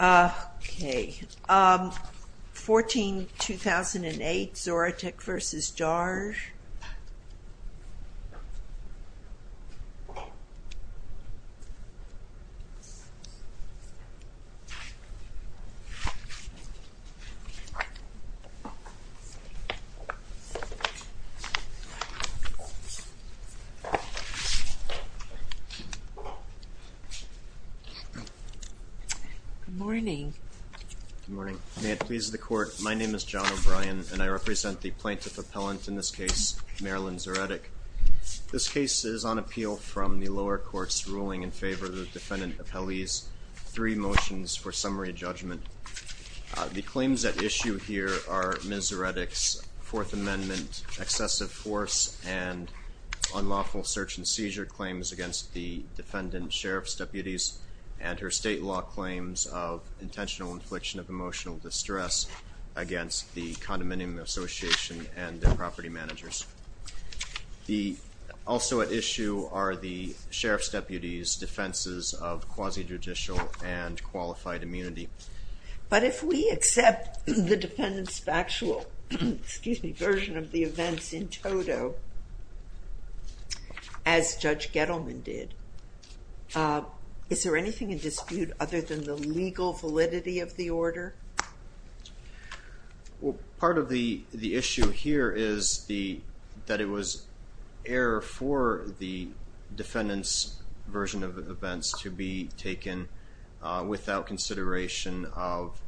Okay, 14-2008 Zoretic v. Darge Good morning. John O'Brien Good morning. May it please the Court, my name is John O'Brien and I represent the plaintiff appellant in this case, Marilyn Zoretic. This case is on appeal from the lower court's ruling in favor of the defendant of Hallease. Three motions for summary judgment. The claims at issue here are Ms. Zoretic's Fourth Amendment excessive force and unlawful search and seizure claims against the defendant, sheriff's deputies, and her state law claims of intentional infliction of emotional distress against the condominium association and their property managers. Also at issue are the sheriff's deputies' defenses of quasi-judicial and qualified immunity. Marilyn Zoretic But if we accept the defendant's factual version of the events in total, as Judge Gettleman did, is there anything in dispute other than the legal validity of the order? John O'Brien Well, part of the issue here is that it was error for the defendant's version of events to be taken without consideration of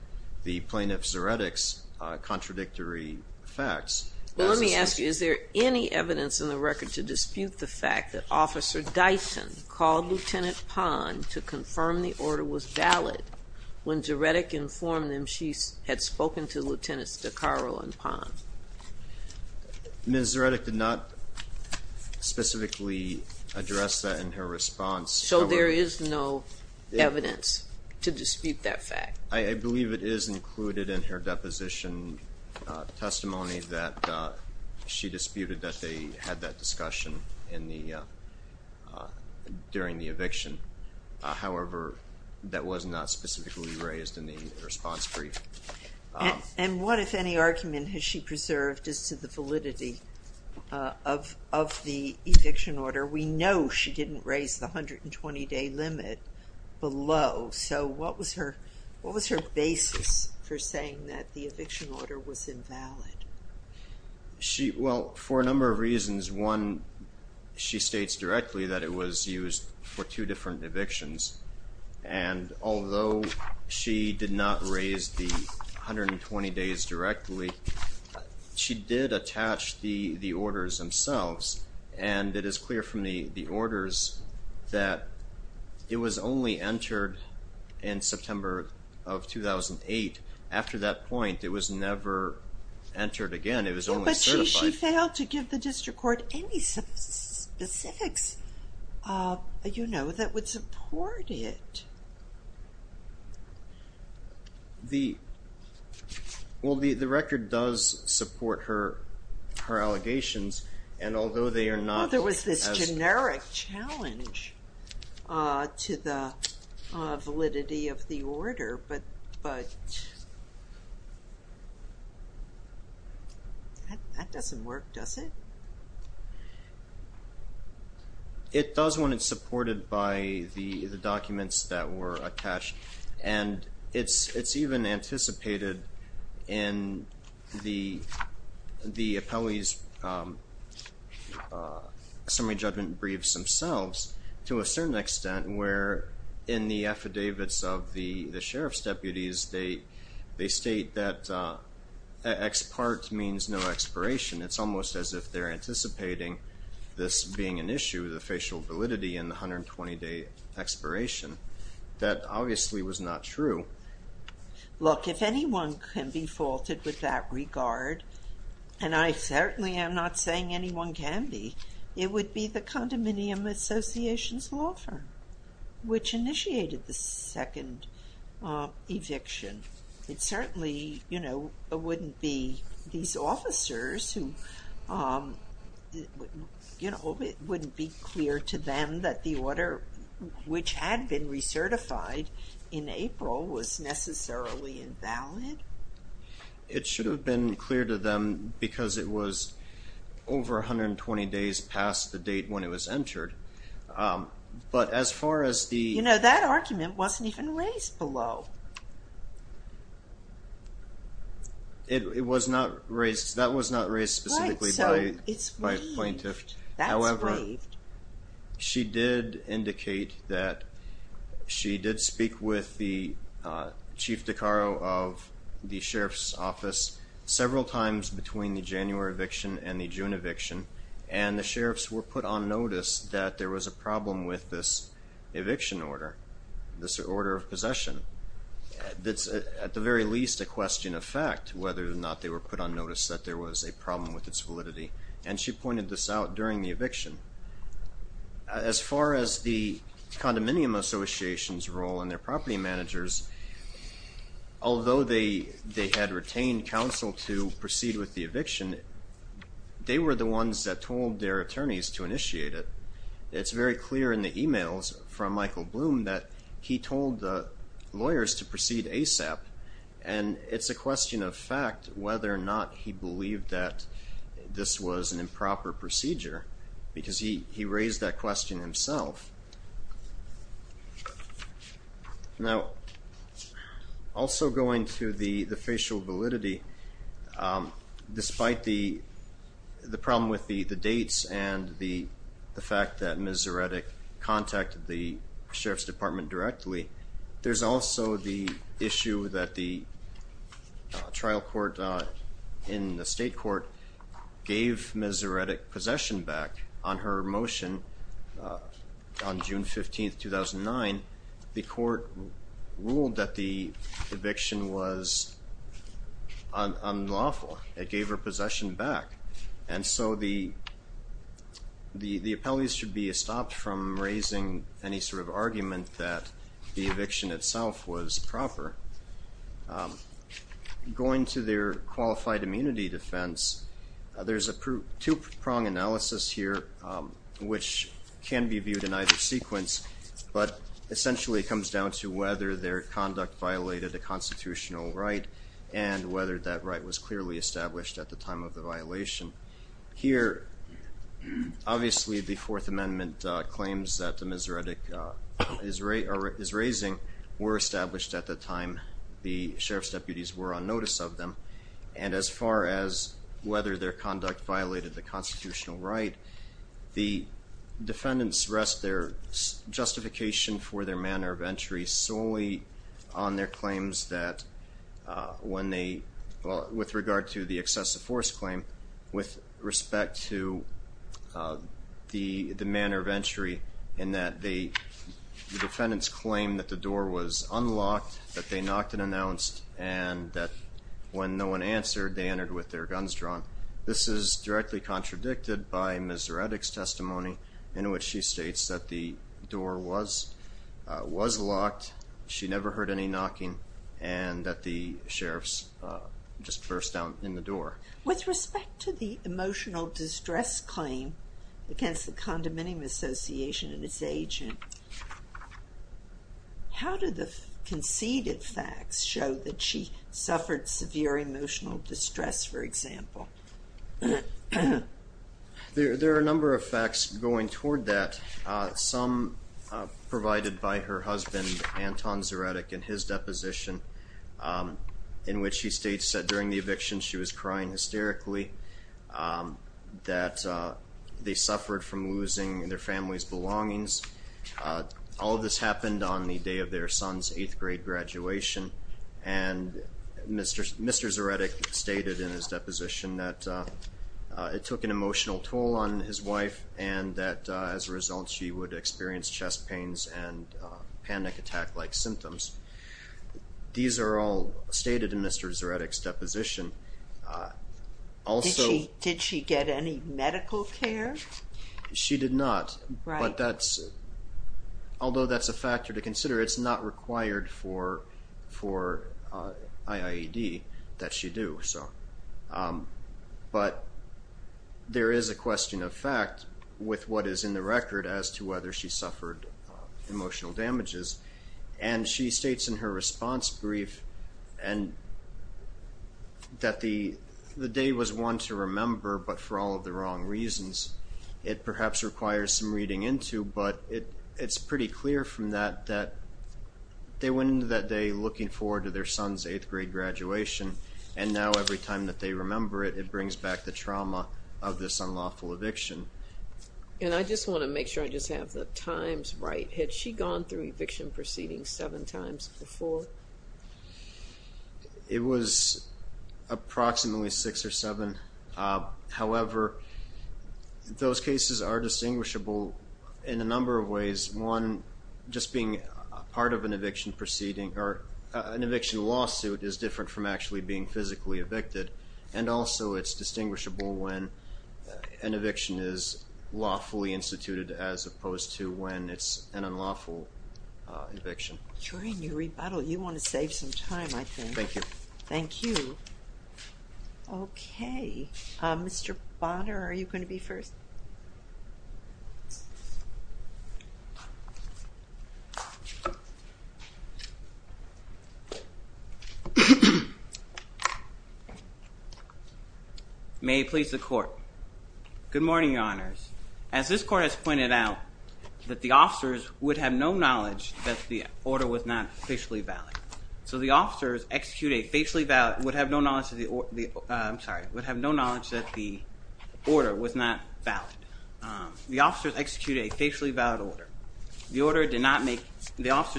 the plaintiff's Zoretic's contradictory facts. Marilyn Zoretic Well, let me ask you, is there any evidence in the record to dispute the fact that Officer Dyson called Lieutenant Pond to confirm the order was valid when Zoretic informed them she had spoken to Lieutenants DeCaro and Pond? John O'Brien Ms. Zoretic did not specifically address that in her response. Marilyn Zoretic So there is no evidence to dispute that fact? John O'Brien I believe it is included in her deposition testimony that she disputed that they had that discussion during the eviction. However, that was not specifically raised in the response brief. Marilyn Zoretic And what, if any, argument has she preserved is to the validity of the eviction order. We know she didn't raise the 120-day limit below. So what was her basis for saying that the eviction order was invalid? John O'Brien Well, for a number of reasons. One, she states directly that it was used for two different evictions. And although she did not raise the 120 days directly, she did attach the orders themselves. And it is clear from the orders that it was only entered in September of 2008. After that point, it was never entered again. Marilyn Zoretic But she failed to give the district court any specifics, you know, that would support it. John O'Brien Well, the record does support her allegations. And although they are not as... Marilyn Zoretic Well, there was this generic challenge to the validity of the order, but that doesn't work, does it? John O'Brien It does when it's supported by the documents that were attached. And it's even anticipated in the appellee's summary judgment briefs themselves to a certain extent where in the affidavits of the sheriff's deputies, they state that ex part means no expiration. It's almost as if they're anticipating this being an issue, the facial validity in the 120-day expiration. That obviously was not true. Marilyn Zoretic Look, if anyone can be faulted with that regard, and I certainly am not saying anyone can be, it would be the Condominium Association's law firm, which initiated the second eviction. It certainly, you know, wouldn't be these officers who, you know, it wouldn't be clear to them that the order, which had been recertified in April, was necessarily invalid. John O'Brien It should have been clear to them because it was over 120 days past the date when it was entered. But as far as the... Marilyn Zoretic You know, that argument wasn't even raised below. John O'Brien It was not raised, that was not raised specifically by plaintiffs. Marilyn Zoretic Right, so it's waived. John O'Brien She did indicate that she did speak with the Chief DeCaro of the Sheriff's Office several times between the January eviction and the June eviction. And the sheriffs were put on notice that there was a problem with this eviction order, this order of possession. That's, at the very least, a question of fact, whether or not they were put on notice that there was a problem with its validity. And she pointed this out during the eviction. As far as the Condominium Association's role and their property managers, although they had retained counsel to proceed with the eviction, they were the ones that told their attorneys to initiate it. It's very clear in the emails from Michael Bloom that he told the lawyers to proceed ASAP. And it's a question of fact whether or not he believed that this was an improper procedure because he raised that question himself. Now, also going to the facial validity, despite the problem with the dates and the fact that the trial court in the state court gave Ms. Zaretic possession back on her motion on June 15, 2009, the court ruled that the eviction was unlawful. It gave her possession back. And so the appellees should be stopped from raising any sort of argument that the eviction itself was proper. Going to their qualified immunity defense, there's a two-prong analysis here, which can be viewed in either sequence, but essentially it comes down to whether their conduct violated a constitutional right and whether that right was clearly established at the time of the violation. Here, obviously, the Fourth Amendment claims that Ms. Zaretic is raising were established at the time the sheriff's deputies were on notice of them. And as far as whether their conduct violated the constitutional right, the defendants rest their justification for their manner of entry solely on their claims that when they, well, with regard to the excessive force claim, with respect to the manner of entry in that the defendants claim that the door was unlocked, that they knocked and announced, and that when no one answered, they entered with their guns drawn. This is directly contradicted by Ms. Zaretic's testimony in which she states that the door was locked, she never heard any knocking, and that the sheriff's just burst down in the door. With respect to the emotional distress claim against the Condominium Association and its agent, how do the conceded facts show that she suffered severe emotional distress, for example? There are a number of facts going toward that, some provided by her husband, Anton Zaretic, in his deposition, in which he states that during the eviction she was crying hysterically, that they suffered from losing their family's belongings. All of this happened on the day of their son's eighth-grade graduation, and Mr. Zaretic stated in his deposition that it took an emotional toll on his wife and that as a result she would experience chest pains and panic attack-like symptoms. These are all stated in Mr. Zaretic's deposition. Did she get any medical care? She did not, but although that's a factor to consider, it's not required for IIED that she do. But there is a question of fact with what is in the record as to whether she suffered emotional damages, and she states in her response brief that the day was one to remember, but for all of the wrong reasons. It perhaps requires some reading into, but it's pretty clear from that that they went through the trauma of her son's eighth-grade graduation, and now every time that they remember it, it brings back the trauma of this unlawful eviction. And I just want to make sure I just have the times right. Had she gone through eviction proceedings seven times before? It was approximately six or seven. However, those cases are distinguishable in a number of ways. One, just being part of an eviction lawsuit is different from actually being physically evicted, and also it's distinguishable when an eviction is lawfully instituted as opposed to when it's an unlawful eviction. During your rebuttal, you want to save some time, I think. Thank you. Thank you. Okay. Mr. Bonner, are you going to be first? May it please the Court. Good morning, Your Honors. As this Court has pointed out, that the officers would have no knowledge that the order was not facially valid. So the officers would have no knowledge that the order was not valid. The officers executed a facially valid order. The officers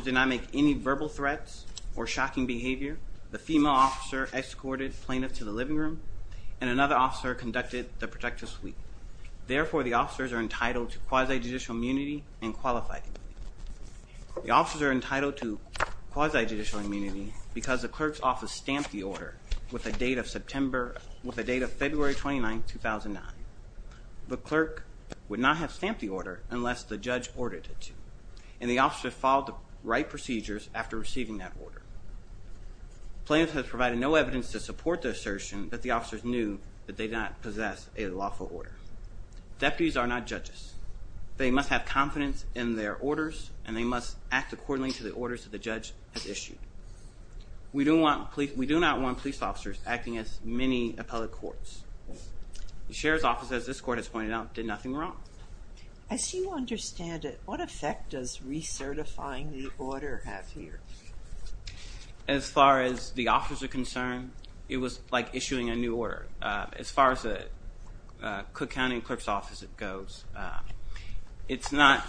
did not make any verbal threats or shocking behavior. The female officer escorted plaintiffs to the living room, and another officer conducted the protective suite. Therefore, the officers are entitled to quasi-judicial immunity and qualified immunity. The officers are entitled to quasi-judicial immunity because the clerk's office stamped the order with a date of February 29, 2009. The clerk would not have stamped the order unless the judge ordered it to, and the officers followed the right procedures after receiving that order. Plaintiffs have provided no evidence to support the assertion that the officers knew that they did not possess a lawful order. Deputies are not judges. They must have confidence in their orders, and they must act accordingly to the orders that the judge has issued. We do not want police officers acting as many appellate courts. The sheriff's office, as this court has pointed out, did nothing wrong. As you understand it, what effect does recertifying the order have here? As far as the officers are concerned, it was like issuing a new order. As far as the Cook County clerk's office, it goes, it's not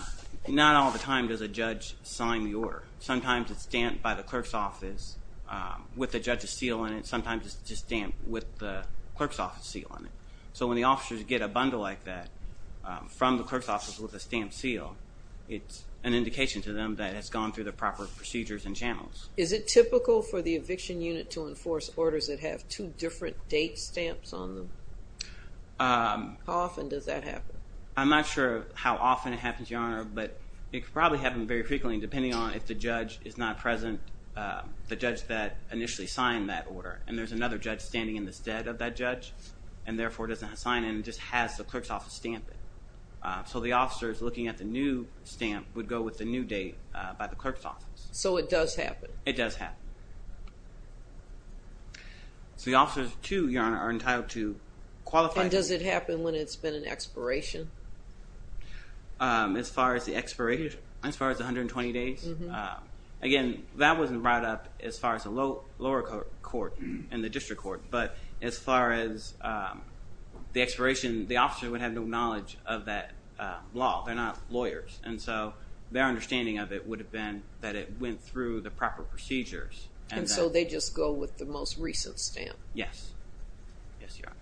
all the time does a judge sign the order. Sometimes it's stamped by the clerk's office with the judge's seal on it. Sometimes it's just stamped with the clerk's office seal on it. So when the officers get a bundle like that from the clerk's office with a stamped seal, it's an indication to them that it's gone through the proper procedures and channels. Is it typical for the eviction unit to enforce orders that have two different date stamps on them? How often does that happen? I'm not sure how often it happens, Your Honor, but it probably happens very frequently, depending on if the judge is not present, the judge that initially signed that order, and there's another judge standing in the stead of that judge, and therefore doesn't sign it and just has the clerk's office stamp it. So the officers looking at the new stamp would go with the new date by the clerk's office. So it does happen? It does happen. So the officers, too, Your Honor, are entitled to qualified... And does it happen when it's been an expiration? As far as the 120 days? Again, that wasn't brought up as far as the lower court and the district court, but as far as the expiration, the officers would have no knowledge of that law. They're not lawyers, and so their understanding of it would have been that it went through the proper procedures. And so they just go with the most recent stamp? Yes. Yes, Your Honor.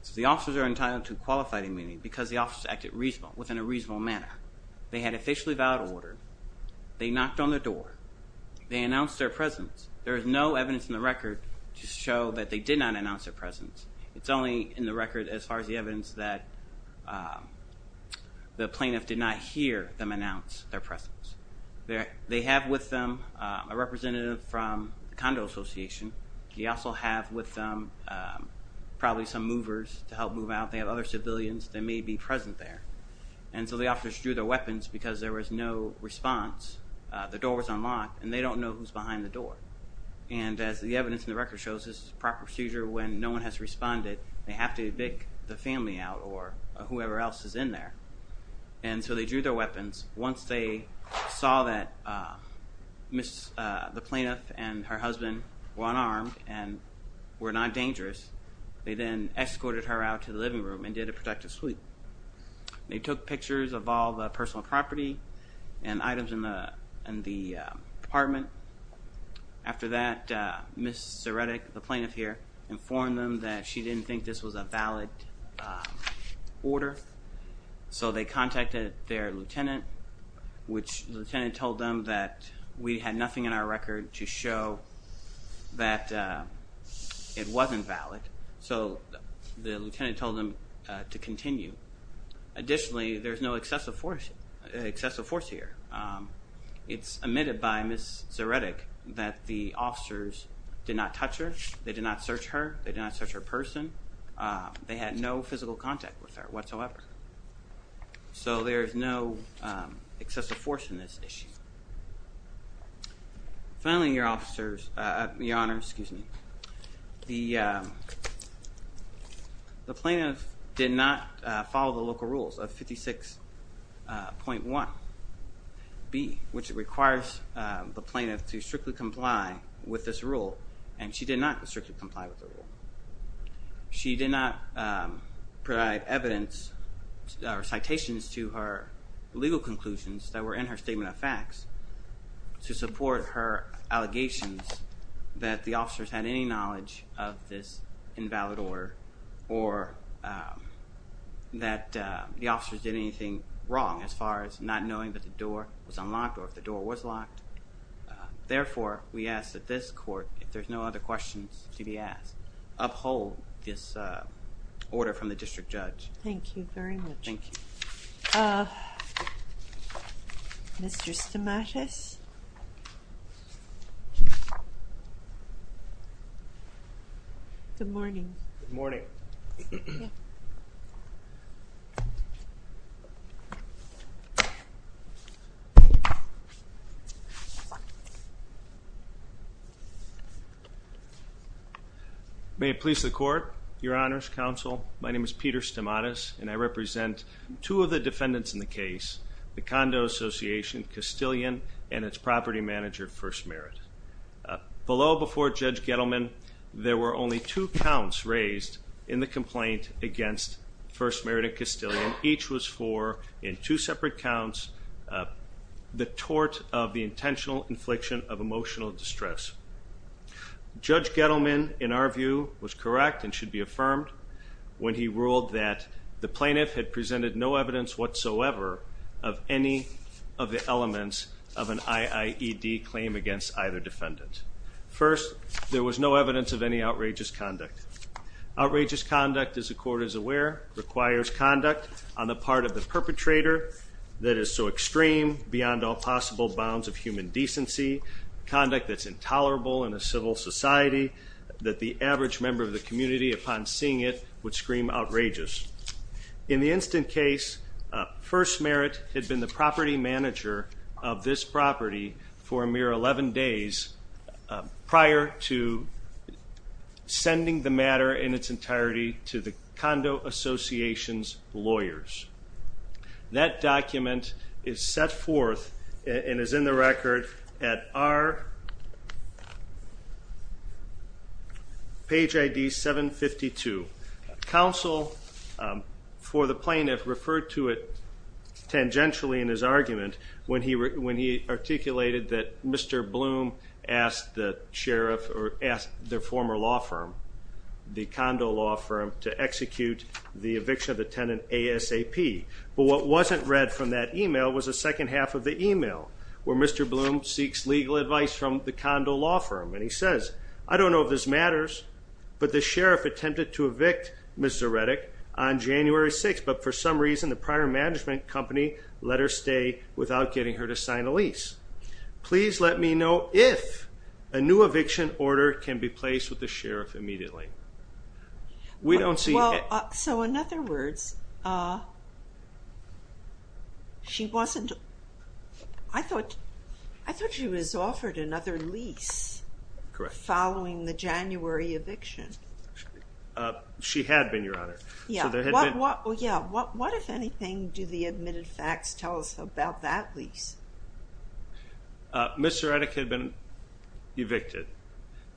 So the officers are entitled to qualified immunity because the officers acted within a reasonable manner. They had officially vowed order. They knocked on the door. They announced their presence. There is no evidence in the record to show that they did not announce their presence. It's only in the record as far as the evidence that the plaintiff did not hear them announce their presence. They have with them a representative from the Condo Association. They also have with them probably some movers to help move out. They have other civilians that may be present there. And so the officers drew their weapons because there was no response. The door was unlocked, and they don't know who's behind the door. And as the evidence in the record shows, this is a proper procedure. When no one has responded, they have to evict the family out or whoever else is in there. And so they drew their weapons. Once they saw that the plaintiff and her husband were unarmed and were not dangerous, they then escorted her out to the living room and did a protective sweep. They took pictures of all the personal property and items in the apartment. After that, Ms. Zaretik, the plaintiff here, informed them that she didn't think this was a valid order. So they contacted their lieutenant, which the lieutenant told them that we had nothing in our record to show that it wasn't valid. So the lieutenant told them to continue. Additionally, there's no excessive force here. It's admitted by Ms. Zaretik that the officers did not touch her. They did not search her. They did not search her person. They had no physical contact with her whatsoever. So there is no excessive force in this issue. Finally, Your Honor, the plaintiff did not follow the local rules of 56.1b, which requires the plaintiff to strictly comply with this rule, and she did not strictly comply with the rule. She did not provide evidence or citations to her legal conclusions that were in her statement of facts to support her allegations that the officers had any knowledge of this invalid order or that the officers did anything wrong as far as not knowing that the door was unlocked or if the door was locked. Therefore, we ask that this court, if there's no other questions to be asked, uphold this order from the district judge. Thank you very much. Thank you. Mr. Stamatis? Good morning. Good morning. May it please the Court, Your Honors, Counsel, my name is Peter Stamatis, and I represent two of the defendants in the case, the Condo Association, Castilian, and its property manager, First Merit. Below, before Judge Gettleman, there were only two counts raised in the complaint against First Merit and Castilian. And each was for, in two separate counts, the tort of the intentional infliction of emotional distress. Judge Gettleman, in our view, was correct and should be affirmed when he ruled that the plaintiff had presented no evidence whatsoever of any of the elements of an IIED claim against either defendant. First, there was no evidence of any outrageous conduct. Outrageous conduct, as the Court is aware, requires conduct on the part of the perpetrator that is so extreme, beyond all possible bounds of human decency, conduct that's intolerable in a civil society, that the average member of the community, upon seeing it, would scream outrageous. In the instant case, First Merit had been the property manager of this property for a mere 11 days prior to sending the matter in its entirety to the condo association's lawyers. That document is set forth and is in the record at our page ID 752. Counsel for the plaintiff referred to it tangentially in his argument when he articulated that Mr. Bloom asked the sheriff or asked their former law firm, the condo law firm, to execute the eviction of the tenant ASAP. But what wasn't read from that email was the second half of the email, where Mr. Bloom seeks legal advice from the condo law firm, and he says, I don't know if this matters, but the sheriff attempted to evict Ms. Zaretik on January 6th, but for some reason the prior management company let her stay without getting her to sign a lease. Please let me know if a new eviction order can be placed with the sheriff immediately. We don't see. Well, so in other words, she wasn't. I thought she was offered another lease following the January eviction. She had been, Your Honor. Yeah. What, if anything, do the admitted facts tell us about that lease? Ms. Zaretik had been evicted,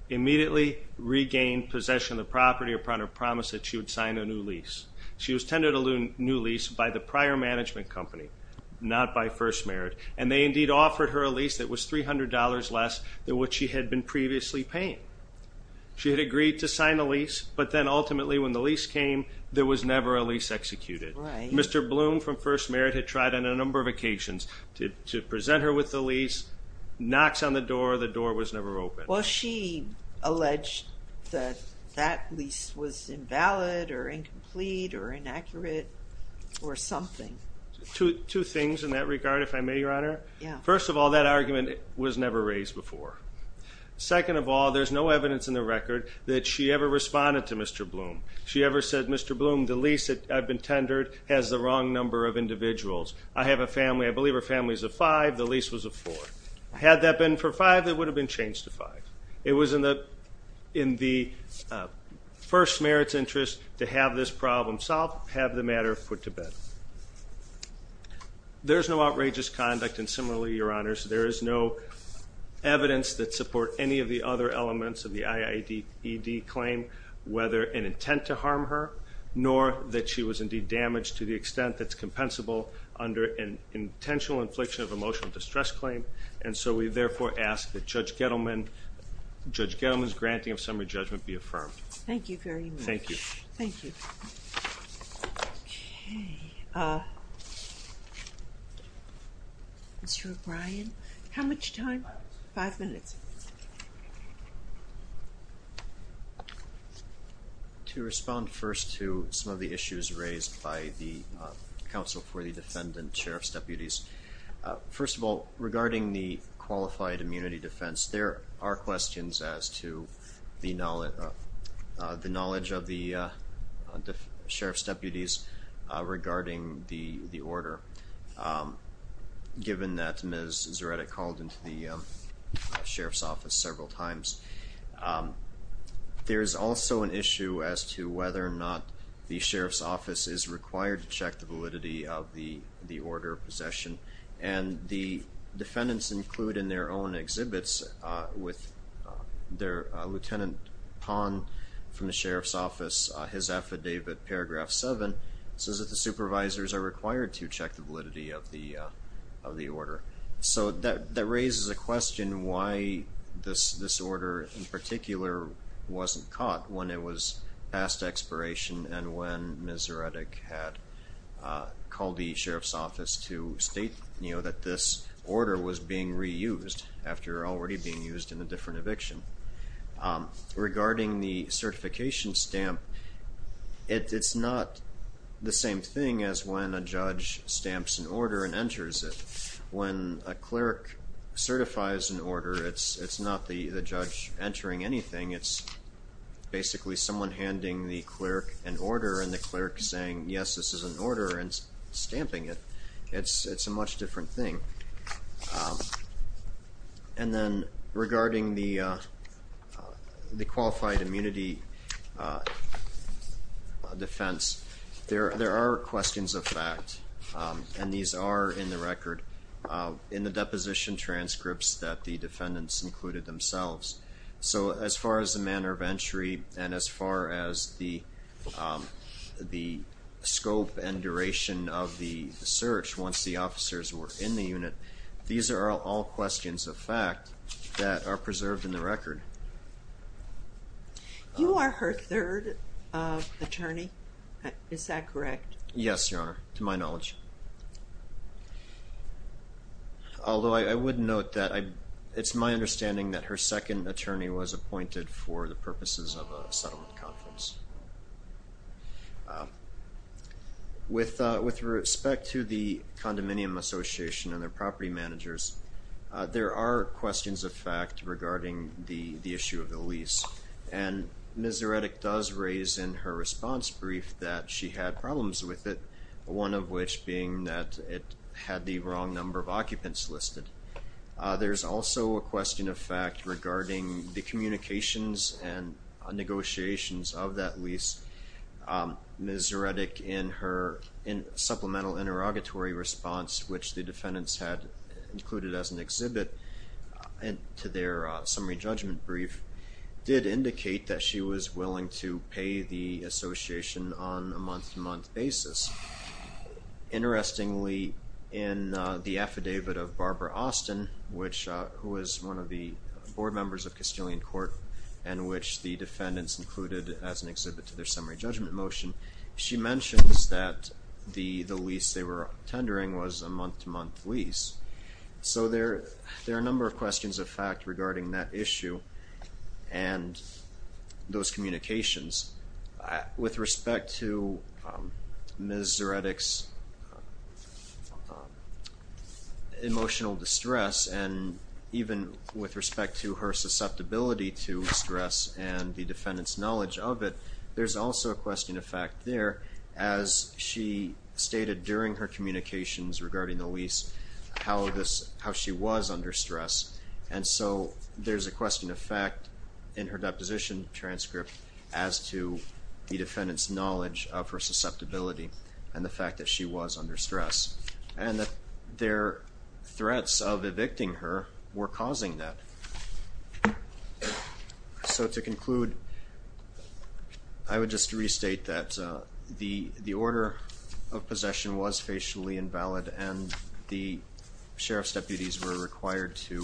immediately regained possession of the property upon her promise that she would sign a new lease. She was tended a new lease by the prior management company, not by First Merit, and they indeed offered her a lease that was $300 less than what she had been previously paying. She had agreed to sign the lease, but then ultimately when the lease came, there was never a lease executed. Right. Mr. Bloom from First Merit had tried on a number of occasions to present her with the lease, knocks on the door, the door was never open. Well, she alleged that that lease was invalid or incomplete or inaccurate or something. Two things in that regard, if I may, Your Honor. Yeah. First of all, that argument was never raised before. Second of all, there's no evidence in the record that she ever responded to Mr. Bloom. She ever said, Mr. Bloom, the lease that I've been tendered has the wrong number of individuals. I have a family, I believe her family is a five, the lease was a four. Had that been for five, it would have been changed to five. It was in the First Merit's interest to have this problem solved, have the matter put to bed. There's no outrageous conduct, and similarly, Your Honors, there is no evidence that support any of the other elements of the IAED claim, whether an intent to harm her, nor that she was indeed damaged to the extent that's compensable under an intentional infliction of emotional distress claim, and so we therefore ask that Judge Gettleman's granting of summary judgment be affirmed. Thank you very much. Thank you. Thank you. Okay. Mr. O'Brien. How much time? Five minutes. Five minutes. To respond first to some of the issues raised by the Counsel for the Defendant, Sheriff's Deputies, first of all, regarding the qualified immunity defense, there are questions as to the knowledge of the Sheriff's Office's validity of the order given that Ms. Zaretic called into the Sheriff's Office several times. There is also an issue as to whether or not the Sheriff's Office is required to check the validity of the order of possession, and the defendants include in their own exhibits with their Lieutenant Pahn from the Sheriff's Office and his affidavit, paragraph seven, says that the supervisors are required to check the validity of the order. So that raises a question why this order in particular wasn't caught when it was past expiration and when Ms. Zaretic had called the Sheriff's Office to state, you know, that this order was being reused after already being used in a different eviction. Regarding the certification stamp, it's not the same thing as when a judge stamps an order and enters it. When a clerk certifies an order, it's not the judge entering anything. It's basically someone handing the clerk an order and the clerk saying, yes, this is an order and stamping it. It's a much different thing. And then regarding the qualified immunity defense, there are questions of fact, and these are in the record in the deposition transcripts that the defendants included themselves. So as far as the manner of entry and as far as the scope and duration of the search once the officers were in the unit, these are all questions of fact that are preserved in the record. You are her third attorney. Is that correct? Yes, Your Honor, to my knowledge. Although I would note that it's my understanding that her second attorney was appointed for the purposes of a settlement conference. With respect to the condominium association and their property managers, there are questions of fact regarding the issue of the lease. And Ms. Zaretic does raise in her response brief that she had problems with it, one of which being that it had the wrong number of occupants listed. There's also a question of fact regarding the communications and negotiations of that lease. Ms. Zaretic, in her supplemental interrogatory response, which the defendants had included as an exhibit to their summary judgment brief, did indicate that she was willing to pay the association on a month-to-month basis. Interestingly, in the affidavit of Barbara Austin, who was one of the board members of Castilian Court and which the defendants included as an exhibit to their summary judgment motion, she mentions that the lease they were tendering was a month-to-month lease. So there are a number of questions of fact regarding that issue and those communications. With respect to Ms. Zaretic's emotional distress and even with respect to her susceptibility to stress and the defendant's knowledge of it, there's also a question of fact there, as she stated during her communications regarding the lease, how she was under stress. And so there's a question of fact in her deposition transcript as to the defendant's knowledge of her susceptibility and the fact that she was under stress. And that their threats of evicting her were causing that. So to conclude, I would just restate that the order of possession was facially invalid and the sheriff's deputies were required to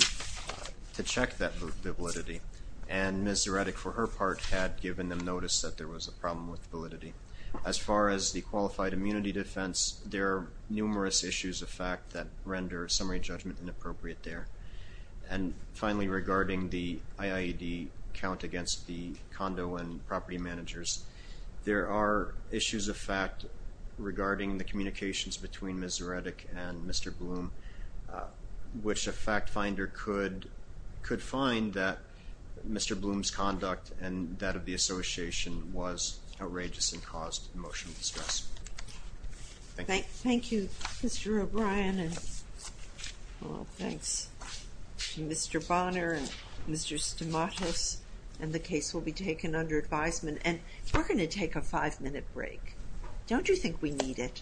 check that validity. And Ms. Zaretic, for her part, had given them notice that there was a problem with validity. As far as the qualified immunity defense, there are numerous issues of fact that render summary judgment inappropriate there. And finally, regarding the IAED count against the condo and property managers, there are issues of fact regarding the communications between Ms. Zaretic and Mr. Bloom, which a fact finder could find that Mr. Bloom's conduct and that of the association was outrageous and caused emotional distress. Thank you. Thank you, Mr. O'Brien, and thanks to Mr. Bonner and Mr. Stamatos. And the case will be taken under advisement. And we're going to take a five-minute break. Don't you think we need it?